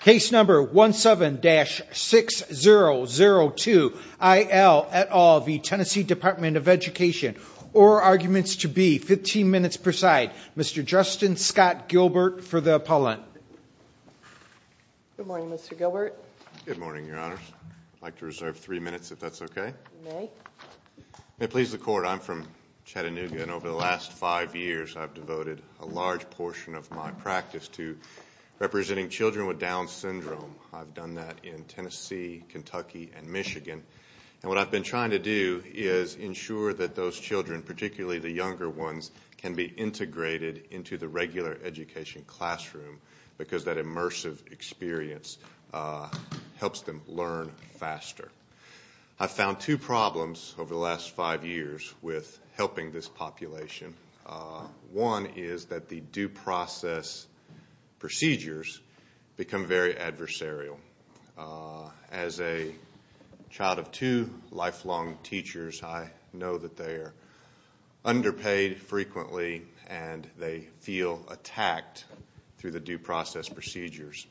Case number 17-6002, I. L. et al. v. TN Department of Education Or arguments to be 15 minutes per side. Mr. Justin Scott Gilbert for the appellant. Good morning, Mr. Gilbert. Good morning, Your Honors. I'd like to reserve three minutes if that's okay. May it please the Court, I'm from Chattanooga, and over the last five years I've devoted a large portion of my practice to representing children with Down syndrome. I've done that in Tennessee, Kentucky, and Michigan. And what I've been trying to do is ensure that those children, particularly the younger ones, can be integrated into the regular education classroom because that immersive experience helps them learn faster. I've found two problems over the last five years with helping this population. One is that the due process procedures become very adversarial. As a child of two lifelong teachers, I know that they are underpaid frequently and they feel attacked through the due process procedures.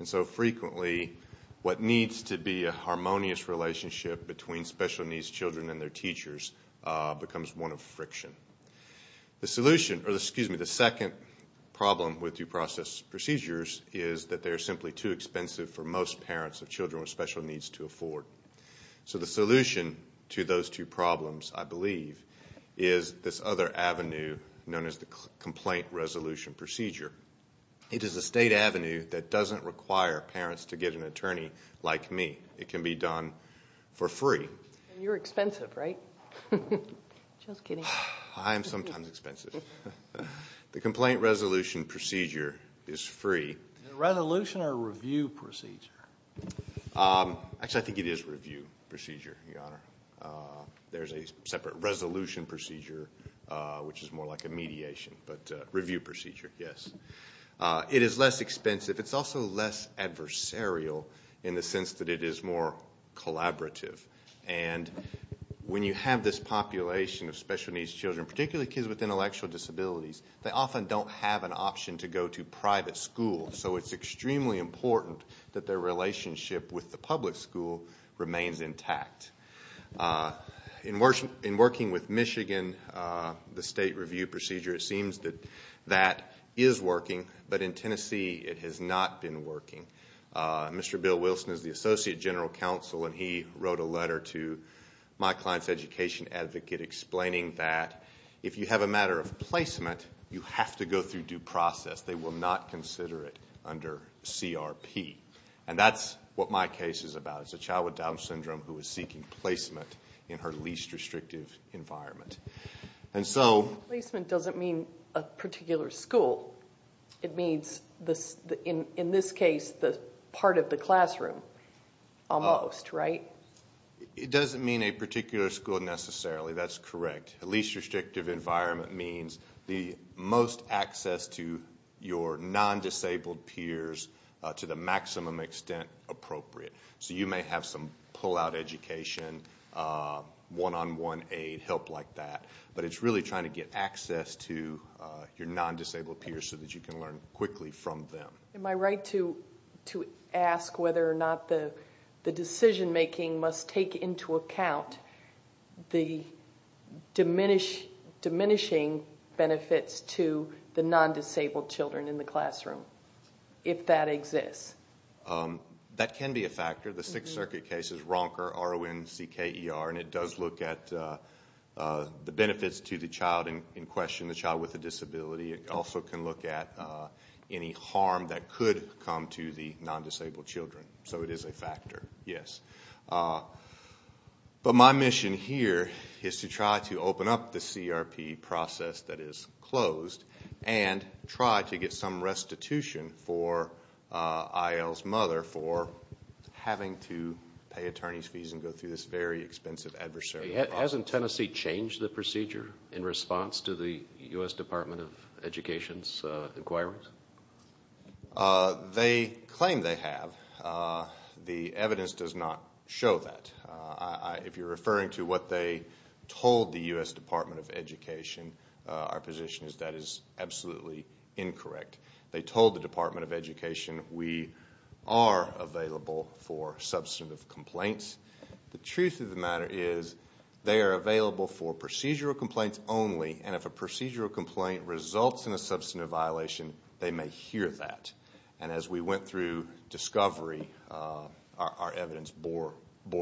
And so frequently what needs to be a harmonious relationship between special needs children and their teachers becomes one of friction. The second problem with due process procedures is that they are simply too expensive for most parents of children with special needs to afford. So the solution to those two problems, I believe, is this other avenue known as the complaint resolution procedure. It is a state avenue that doesn't require parents to get an attorney like me. It can be done for free. And you're expensive, right? Just kidding. I am sometimes expensive. The complaint resolution procedure is free. Is it a resolution or a review procedure? Actually, I think it is a review procedure, Your Honor. There's a separate resolution procedure, which is more like a mediation, but a review procedure, yes. It is less expensive. It's also less adversarial in the sense that it is more collaborative. And when you have this population of special needs children, particularly kids with intellectual disabilities, they often don't have an option to go to private school. So it's extremely important that their relationship with the public school remains intact. In working with Michigan, the state review procedure, it seems that that is working. But in Tennessee, it has not been working. Mr. Bill Wilson is the Associate General Counsel, and he wrote a letter to my client's education advocate explaining that if you have a matter of placement, you have to go through due process. They will not consider it under CRP. And that's what my case is about. It's a child with Down syndrome who is seeking placement in her least restrictive environment. Placement doesn't mean a particular school. It means, in this case, the part of the classroom almost, right? It doesn't mean a particular school necessarily. That's correct. The least restrictive environment means the most access to your non-disabled peers to the maximum extent appropriate. So you may have some pull-out education, one-on-one aid, help like that. But it's really trying to get access to your non-disabled peers so that you can learn quickly from them. Am I right to ask whether or not the decision-making must take into account the diminishing benefits to the non-disabled children in the classroom, if that exists? That can be a factor. The Sixth Circuit case is Ronker, R-O-N-C-K-E-R, and it does look at the benefits to the child in question, the child with a disability. It also can look at any harm that could come to the non-disabled children. So it is a factor, yes. But my mission here is to try to open up the CRP process that is closed and try to get some restitution for IL's mother for having to pay attorney's fees and go through this very expensive adversary process. Hasn't Tennessee changed the procedure in response to the U.S. Department of Education's inquiries? They claim they have. The evidence does not show that. If you're referring to what they told the U.S. Department of Education, our position is that is absolutely incorrect. They told the Department of Education we are available for substantive complaints. The truth of the matter is they are available for procedural complaints only, and if a procedural complaint results in a substantive violation, they may hear that. And as we went through discovery, our evidence bore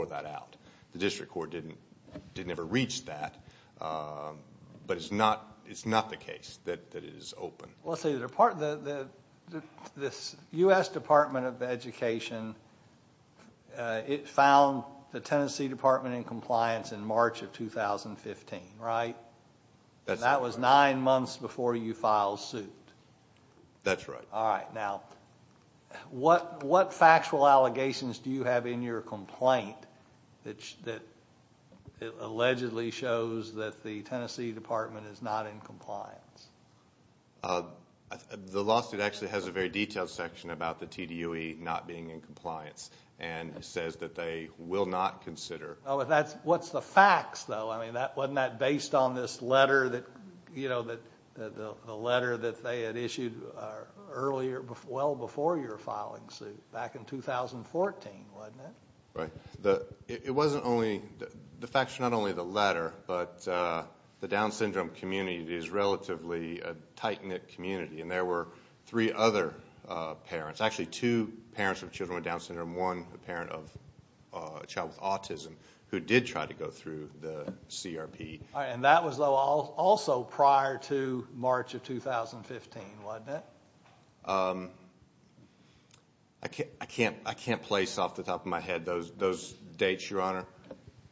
that out. The district court didn't ever reach that, but it's not the case that it is open. Let's see, the U.S. Department of Education, it found the Tennessee Department in compliance in March of 2015, right? That was nine months before you filed suit. That's right. All right, now, what factual allegations do you have in your complaint that allegedly shows that the Tennessee Department is not in compliance? The lawsuit actually has a very detailed section about the TDOE not being in compliance, and it says that they will not consider. What's the facts, though? Wasn't that based on this letter that they had issued earlier, well before you were filing suit, back in 2014, wasn't it? Right. The facts are not only the letter, but the Down syndrome community is relatively a tight-knit community, and there were three other parents, actually two parents with children with Down syndrome, and one parent of a child with autism who did try to go through the CRP. All right, and that was also prior to March of 2015, wasn't it? I can't place off the top of my head those dates, Your Honor,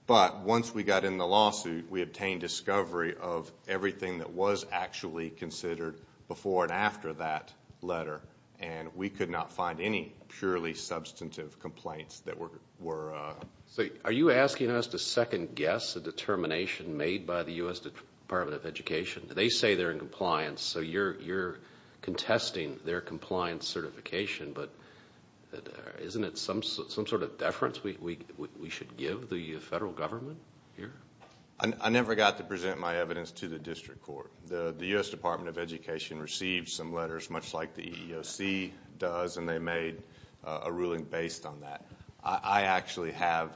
but once we got in the lawsuit, we obtained discovery of everything that was actually considered before and after that letter, and we could not find any purely substantive complaints that were. So are you asking us to second-guess a determination made by the U.S. Department of Education? They say they're in compliance, so you're contesting their compliance certification, but isn't it some sort of deference we should give the federal government here? I never got to present my evidence to the district court. The U.S. Department of Education received some letters, much like the EEOC does, and they made a ruling based on that. I actually have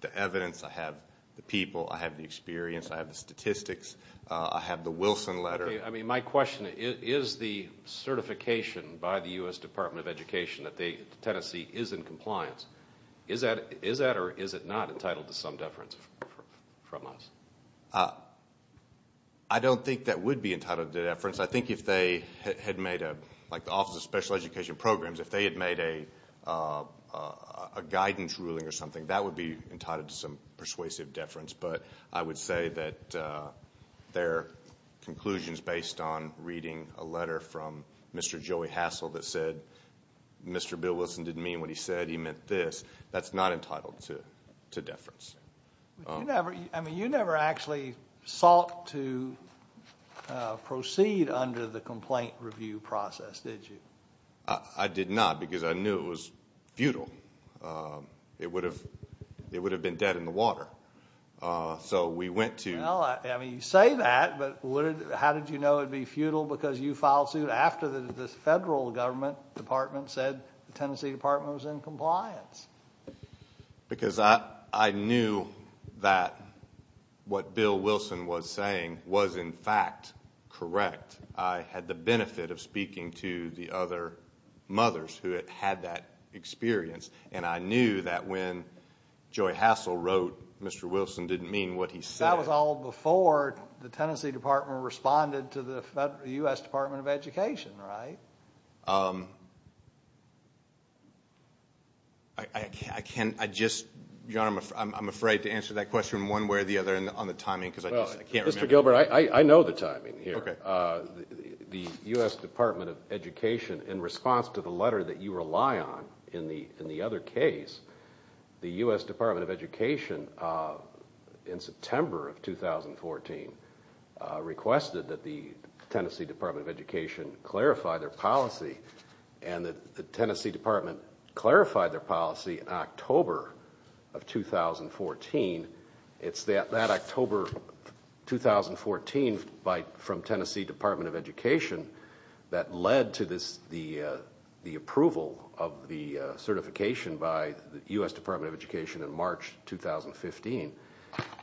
the evidence. I have the people. I have the experience. I have the statistics. I have the Wilson letter. I mean, my question, is the certification by the U.S. Department of Education that Tennessee is in compliance, is that or is it not entitled to some deference from us? I don't think that would be entitled to deference. I think if they had made a, like the Office of Special Education Programs, if they had made a guidance ruling or something, that would be entitled to some persuasive deference. But I would say that their conclusion is based on reading a letter from Mr. Joey Hassel that said, Mr. Bill Wilson didn't mean what he said, he meant this. That's not entitled to deference. I mean, you never actually sought to proceed under the complaint review process, did you? I did not, because I knew it was futile. It would have been dead in the water. So we went to- Well, I mean, you say that, but how did you know it would be futile? Because you filed suit after the federal government department said the Tennessee Department was in compliance. Because I knew that what Bill Wilson was saying was, in fact, correct. I had the benefit of speaking to the other mothers who had had that experience, and I knew that when Joey Hassel wrote, Mr. Wilson didn't mean what he said. That was all before the Tennessee Department responded to the U.S. Department of Education, right? I can't, I just, John, I'm afraid to answer that question one way or the other on the timing, because I can't remember. Well, Mr. Gilbert, I know the timing here. The U.S. Department of Education, in response to the letter that you rely on in the other case, the U.S. Department of Education, in September of 2014, requested that the Tennessee Department of Education clarify their policy, and the Tennessee Department clarified their policy in October of 2014. It's that October 2014 from Tennessee Department of Education that led to the approval of the certification by the U.S. Department of Education in March 2015.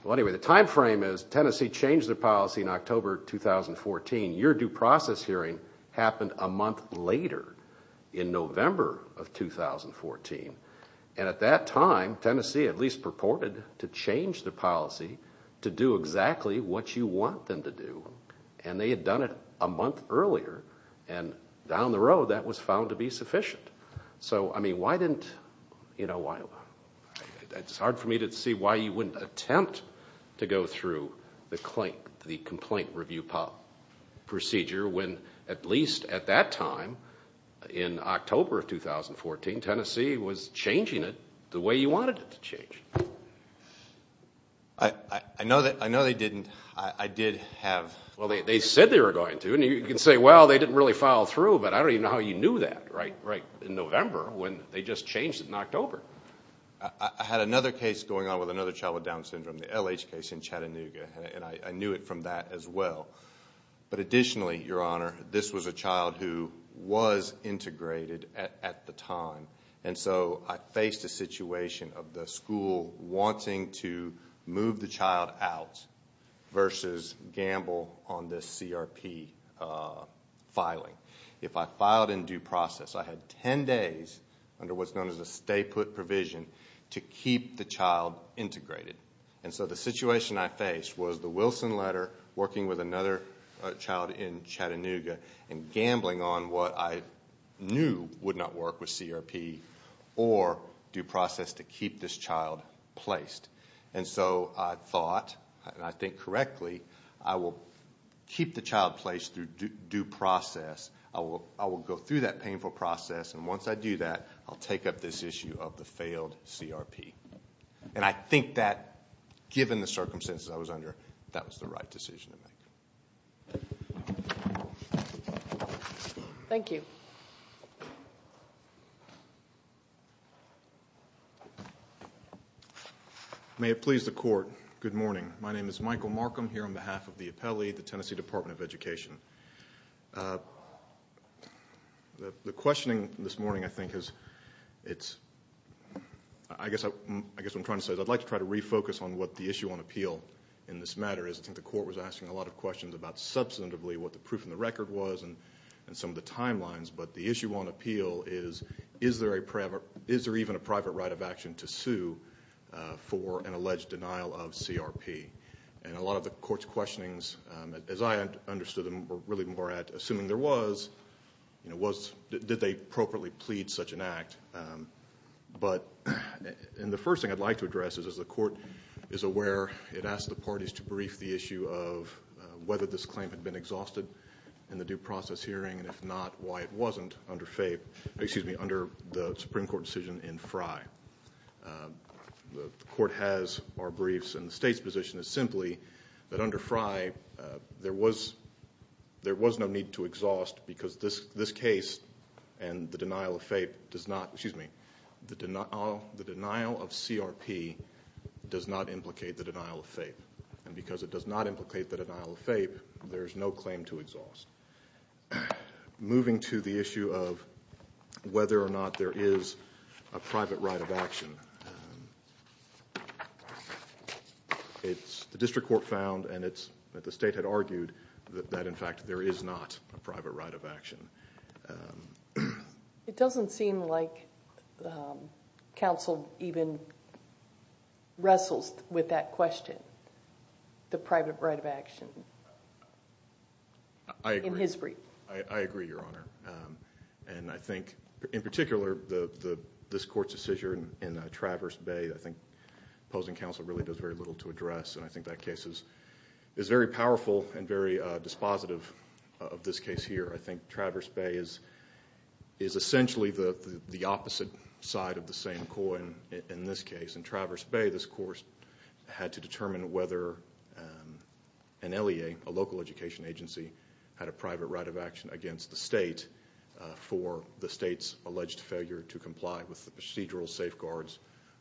Well, anyway, the time frame is Tennessee changed their policy in October 2014. Your due process hearing happened a month later, in November of 2014. And at that time, Tennessee at least purported to change their policy to do exactly what you want them to do. And they had done it a month earlier, and down the road that was found to be sufficient. So, I mean, why didn't, you know, it's hard for me to see why you wouldn't attempt to go through the complaint review procedure when at least at that time, in October of 2014, Tennessee was changing it the way you wanted it to change. I know they didn't. I did have... Well, they said they were going to, and you can say, well, they didn't really follow through, but I don't even know how you knew that. Right in November when they just changed it in October. I had another case going on with another child with Down syndrome, the LH case in Chattanooga, and I knew it from that as well. But additionally, Your Honor, this was a child who was integrated at the time, and so I faced a situation of the school wanting to move the child out versus gamble on this CRP filing. If I filed in due process, I had 10 days under what's known as a stay-put provision to keep the child integrated. And so the situation I faced was the Wilson letter, working with another child in Chattanooga, and gambling on what I knew would not work with CRP or due process to keep this child placed. And so I thought, and I think correctly, I will keep the child placed through due process. I will go through that painful process, and once I do that, I'll take up this issue of the failed CRP. And I think that, given the circumstances I was under, that was the right decision to make. Thank you. May it please the Court, good morning. My name is Michael Markham here on behalf of the Appellee, the Tennessee Department of Education. The questioning this morning, I think, is it's – I guess what I'm trying to say is I'd like to try to refocus on what the issue on appeal in this matter is. I think the Court was asking a lot of questions about substantively what the proof in the record was and some of the timelines. But the issue on appeal is, is there even a private right of action to sue for an alleged denial of CRP? And a lot of the Court's questionings, as I understood them, were really more at assuming there was. But – and the first thing I'd like to address is, as the Court is aware, it asked the parties to brief the issue of whether this claim had been exhausted in the due process hearing, and if not, why it wasn't under FAPE – excuse me, under the Supreme Court decision in Frey. The Court has our briefs, and the State's position is simply that under Frey, there was no need to exhaust because this case and the denial of FAPE does not – excuse me, the denial of CRP does not implicate the denial of FAPE. And because it does not implicate the denial of FAPE, there is no claim to exhaust. Moving to the issue of whether or not there is a private right of action, the District Court found, and the State had argued, that in fact there is not a private right of action. It doesn't seem like counsel even wrestles with that question, the private right of action. I agree. In his brief. I agree, Your Honor. And I think, in particular, this Court's decision in Traverse Bay, I think opposing counsel really does very little to address, and I think that case is very powerful and very dispositive of this case here. I think Traverse Bay is essentially the opposite side of the same coin in this case. In Traverse Bay, this Court had to determine whether an LEA, a local education agency, had a private right of action against the State for the State's alleged failure to comply with the procedural safeguards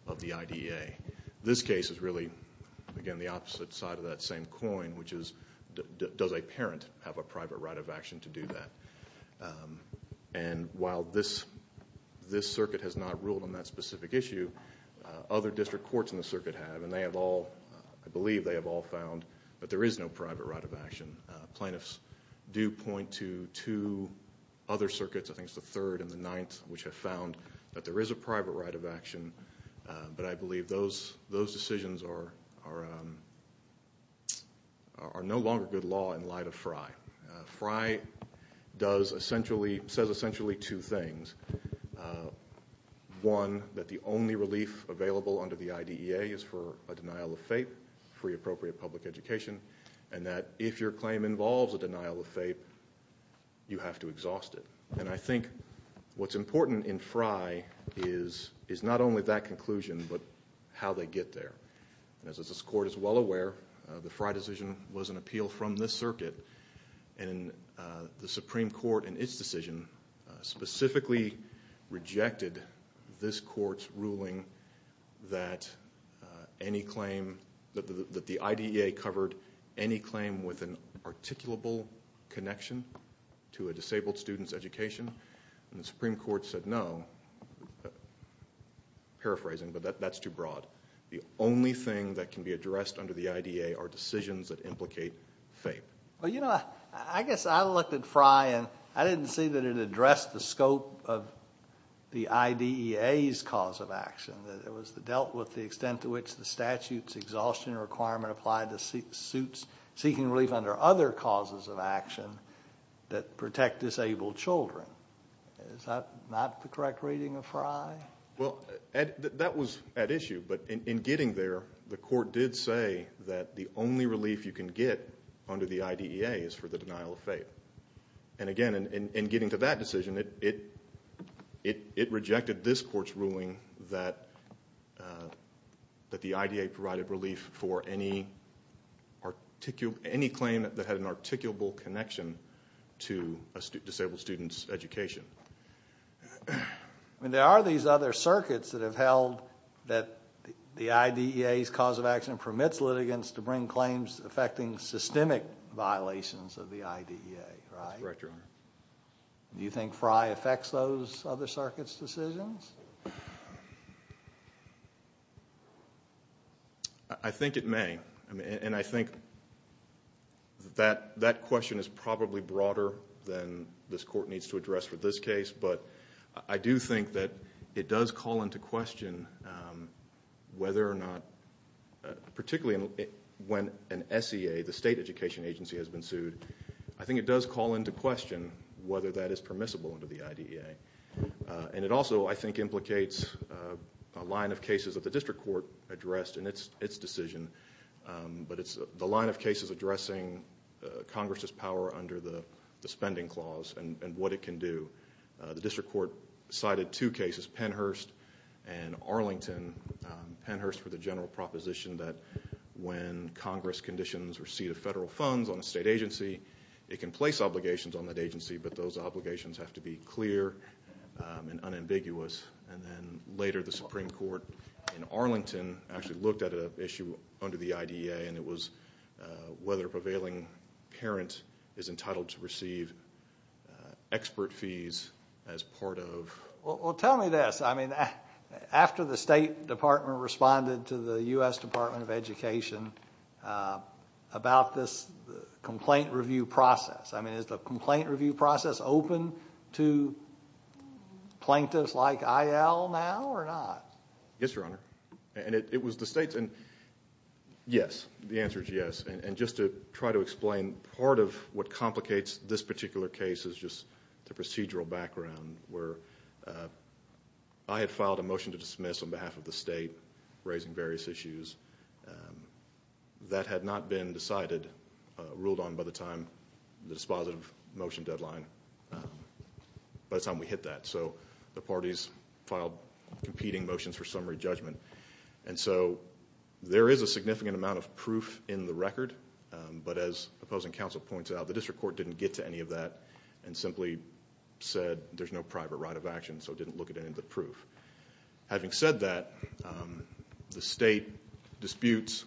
of the IDEA. This case is really, again, the opposite side of that same coin, which is, does a parent have a private right of action to do that? And while this Circuit has not ruled on that specific issue, other District Courts in the Circuit have, and they have all, I believe they have all found that there is no private right of action. Plaintiffs do point to two other Circuits, I think it's the Third and the Ninth, which have found that there is a private right of action, but I believe those decisions are no longer good law in light of Frye. Frye does essentially, says essentially two things. One, that the only relief available under the IDEA is for a denial of fate, free appropriate public education, and that if your claim involves a denial of fate, you have to exhaust it. And I think what's important in Frye is not only that conclusion, but how they get there. As this Court is well aware, the Frye decision was an appeal from this Circuit, and the Supreme Court in its decision specifically rejected this Court's ruling that any claim, that the IDEA covered any claim with an articulable connection to a disabled student's education. And the Supreme Court said no, paraphrasing, but that's too broad. The only thing that can be addressed under the IDEA are decisions that implicate fate. Well, you know, I guess I looked at Frye, and I didn't see that it addressed the scope of the IDEA's cause of action. It dealt with the extent to which the statute's exhaustion requirement applied to suits seeking relief under other causes of action that protect disabled children. Is that not the correct reading of Frye? Well, that was at issue. But in getting there, the Court did say that the only relief you can get under the IDEA is for the denial of fate. And again, in getting to that decision, it rejected this Court's ruling that the IDEA provided relief for any claim that had an articulable connection to a disabled student's education. I mean, there are these other circuits that have held that the IDEA's cause of action permits litigants to bring claims affecting systemic violations of the IDEA, right? That's correct, Your Honor. Do you think Frye affects those other circuits' decisions? I think it may. And I think that question is probably broader than this Court needs to address for this case. But I do think that it does call into question whether or not, particularly when an SEA, the State Education Agency, has been sued. I think it does call into question whether that is permissible under the IDEA. And it also, I think, implicates a line of cases that the District Court addressed in its decision. But it's the line of cases addressing Congress's power under the spending clause and what it can do. The District Court cited two cases, Pennhurst and Arlington. Pennhurst for the general proposition that when Congress conditions receipt of federal funds on a state agency, it can place obligations on that agency, but those obligations have to be clear and unambiguous. And then later, the Supreme Court in Arlington actually looked at an issue under the IDEA, and it was whether a prevailing parent is entitled to receive expert fees as part of... Well, tell me this. I mean, after the State Department responded to the U.S. Department of Education about this complaint review process, I mean, is the complaint review process open to plaintiffs like Eyal now or not? Yes, Your Honor. And it was the State's... Yes. The answer is yes. And just to try to explain, part of what complicates this particular case is just the procedural background where I had filed a motion to dismiss on behalf of the state, raising various issues. That had not been decided, ruled on by the time, the dispositive motion deadline, by the time we hit that. So the parties filed competing motions for summary judgment. And so there is a significant amount of proof in the record. But as opposing counsel points out, the district court didn't get to any of that and simply said there's no private right of action, so it didn't look at any of the proof. Having said that, the state disputes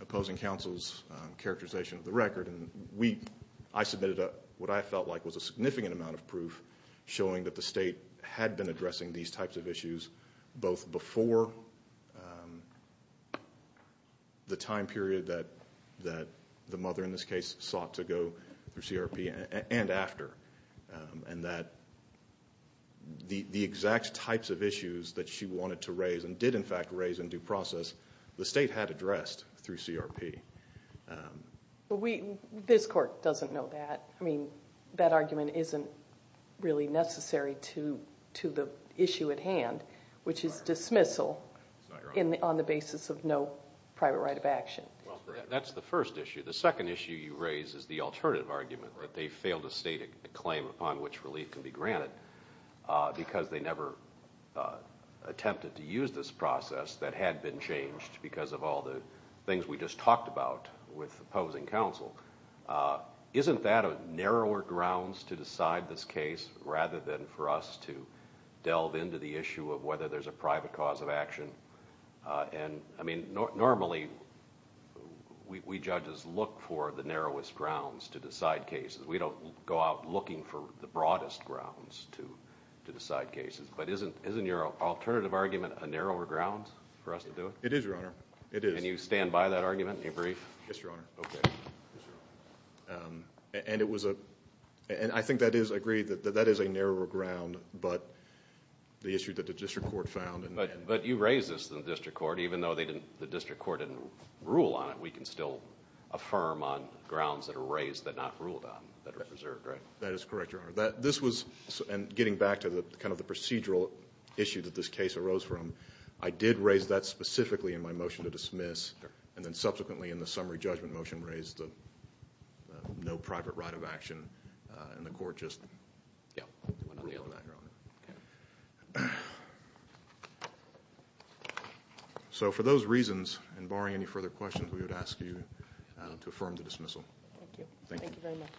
opposing counsel's characterization of the record. And I submitted what I felt like was a significant amount of proof showing that the state had been addressing these types of issues both before the time period that the mother in this case sought to go through CRP and after. And that the exact types of issues that she wanted to raise and did, in fact, raise in due process, the state had addressed through CRP. This court doesn't know that. I mean, that argument isn't really necessary to the issue at hand, which is dismissal on the basis of no private right of action. That's the first issue. The second issue you raise is the alternative argument, that they failed to state a claim upon which relief can be granted because they never attempted to use this process that had been changed because of all the things we just talked about with opposing counsel. Isn't that a narrower grounds to decide this case rather than for us to delve into the issue of whether there's a private cause of action? And, I mean, normally we judges look for the narrowest grounds to decide cases. We don't go out looking for the broadest grounds to decide cases. But isn't your alternative argument a narrower ground for us to do it? It is, Your Honor. It is. And you stand by that argument? You agree? Yes, Your Honor. Okay. And it was a—and I think that is agreed that that is a narrower ground, but the issue that the district court found— But you raised this in the district court. Even though the district court didn't rule on it, we can still affirm on grounds that are raised that are not ruled on, that are preserved, right? That is correct, Your Honor. This was—and getting back to kind of the procedural issue that this case arose from, I did raise that specifically in my motion to dismiss, and then subsequently in the summary judgment motion raised the no private right of action, and the court just ruled on that, Your Honor. Okay. So for those reasons, and barring any further questions, we would ask you to affirm the dismissal. Thank you. Thank you. Thank you very much.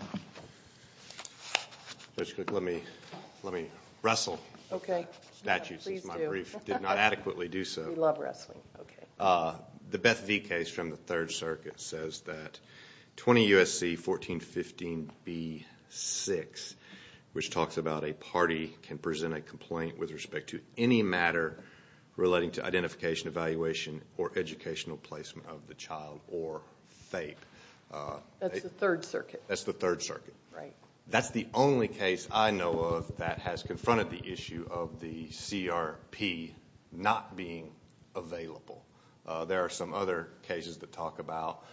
Thank you. Judge Cook, let me wrestle. Okay. Statutes is my brief. Please do. Did not adequately do so. We love wrestling. Okay. The Beth V. case from the Third Circuit says that 20 U.S.C. 1415b-6, which talks about a party can present a complaint with respect to any matter relating to identification, evaluation, or educational placement of the child or FAPE. That's the Third Circuit. That's the Third Circuit. Right. That's the only case I know of that has confronted the issue of the CRP not being available. There are some other cases that talk about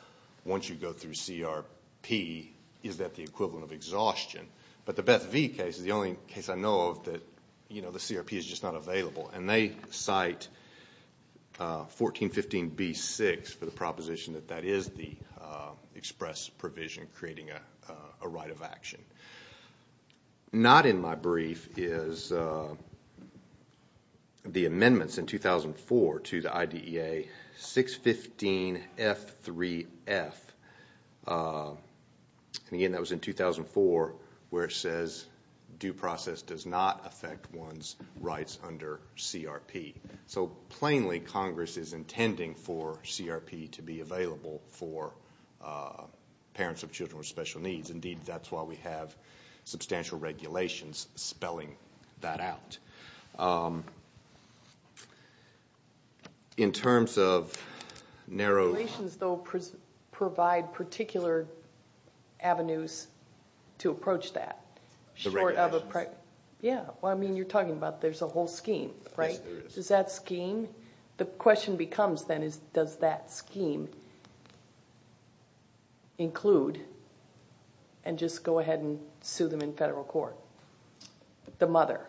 once you go through CRP, is that the equivalent of exhaustion? But the Beth V. case is the only case I know of that the CRP is just not available, and they cite 1415b-6 for the proposition that that is the express provision creating a right of action. Not in my brief is the amendments in 2004 to the IDEA, 615F3F. And, again, that was in 2004 where it says due process does not affect one's rights under CRP. So, plainly, Congress is intending for CRP to be available for parents of children with special needs. Indeed, that's why we have substantial regulations spelling that out. In terms of narrow- Regulations, though, provide particular avenues to approach that short of a- The regulations. Yeah. Well, I mean, you're talking about there's a whole scheme, right? Yes, there is. Is that scheme? The question becomes, then, is does that scheme include and just go ahead and sue them in federal court, the mother?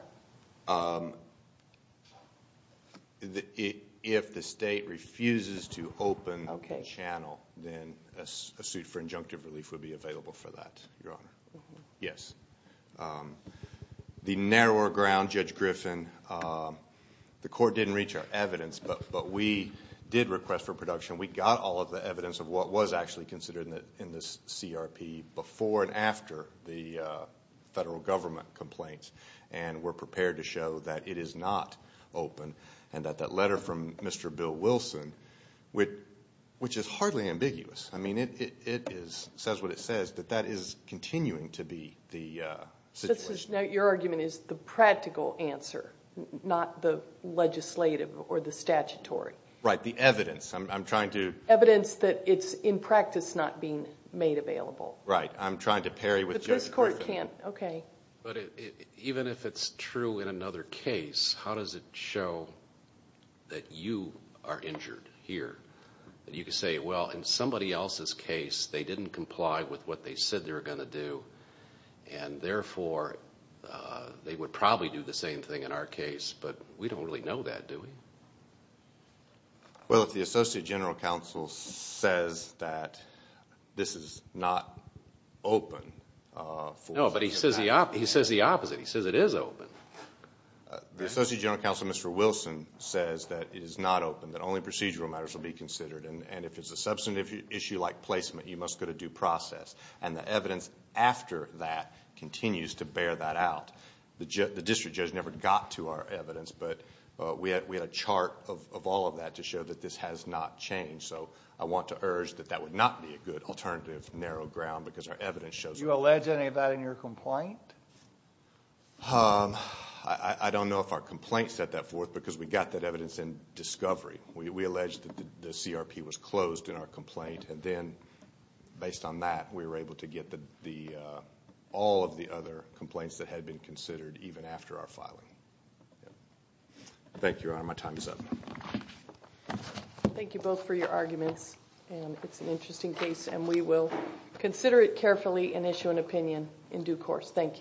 If the state refuses to open the channel, then a suit for injunctive relief would be available for that, Your Honor. Yes. The narrower ground, Judge Griffin, the court didn't reach our evidence, but we did request for production. We got all of the evidence of what was actually considered in this CRP before and after the federal government complaints, and we're prepared to show that it is not open and that that letter from Mr. Bill Wilson, which is hardly ambiguous. I mean, it says what it says, that that is continuing to be the situation. Now, your argument is the practical answer, not the legislative or the statutory. Right. The evidence. I'm trying to- Evidence that it's, in practice, not being made available. Right. I'm trying to parry with Judge Griffin. But this court can't- Even if it's true in another case, how does it show that you are injured here? You could say, well, in somebody else's case, they didn't comply with what they said they were going to do, and therefore they would probably do the same thing in our case, but we don't really know that, do we? Well, if the Associate General Counsel says that this is not open for- No, but he says the opposite. He says it is open. The Associate General Counsel, Mr. Wilson, says that it is not open, that only procedural matters will be considered, and if it's a substantive issue like placement, you must go to due process. And the evidence after that continues to bear that out. The district judge never got to our evidence, but we had a chart of all of that to show that this has not changed. So I want to urge that that would not be a good alternative narrow ground because our evidence shows- Did you allege any of that in your complaint? I don't know if our complaint set that forth because we got that evidence in discovery. We alleged that the CRP was closed in our complaint, and then based on that, we were able to get all of the other complaints that had been considered even after our filing. Thank you, Your Honor. Thank you both for your arguments. It's an interesting case, and we will consider it carefully and issue an opinion in due course. Thank you.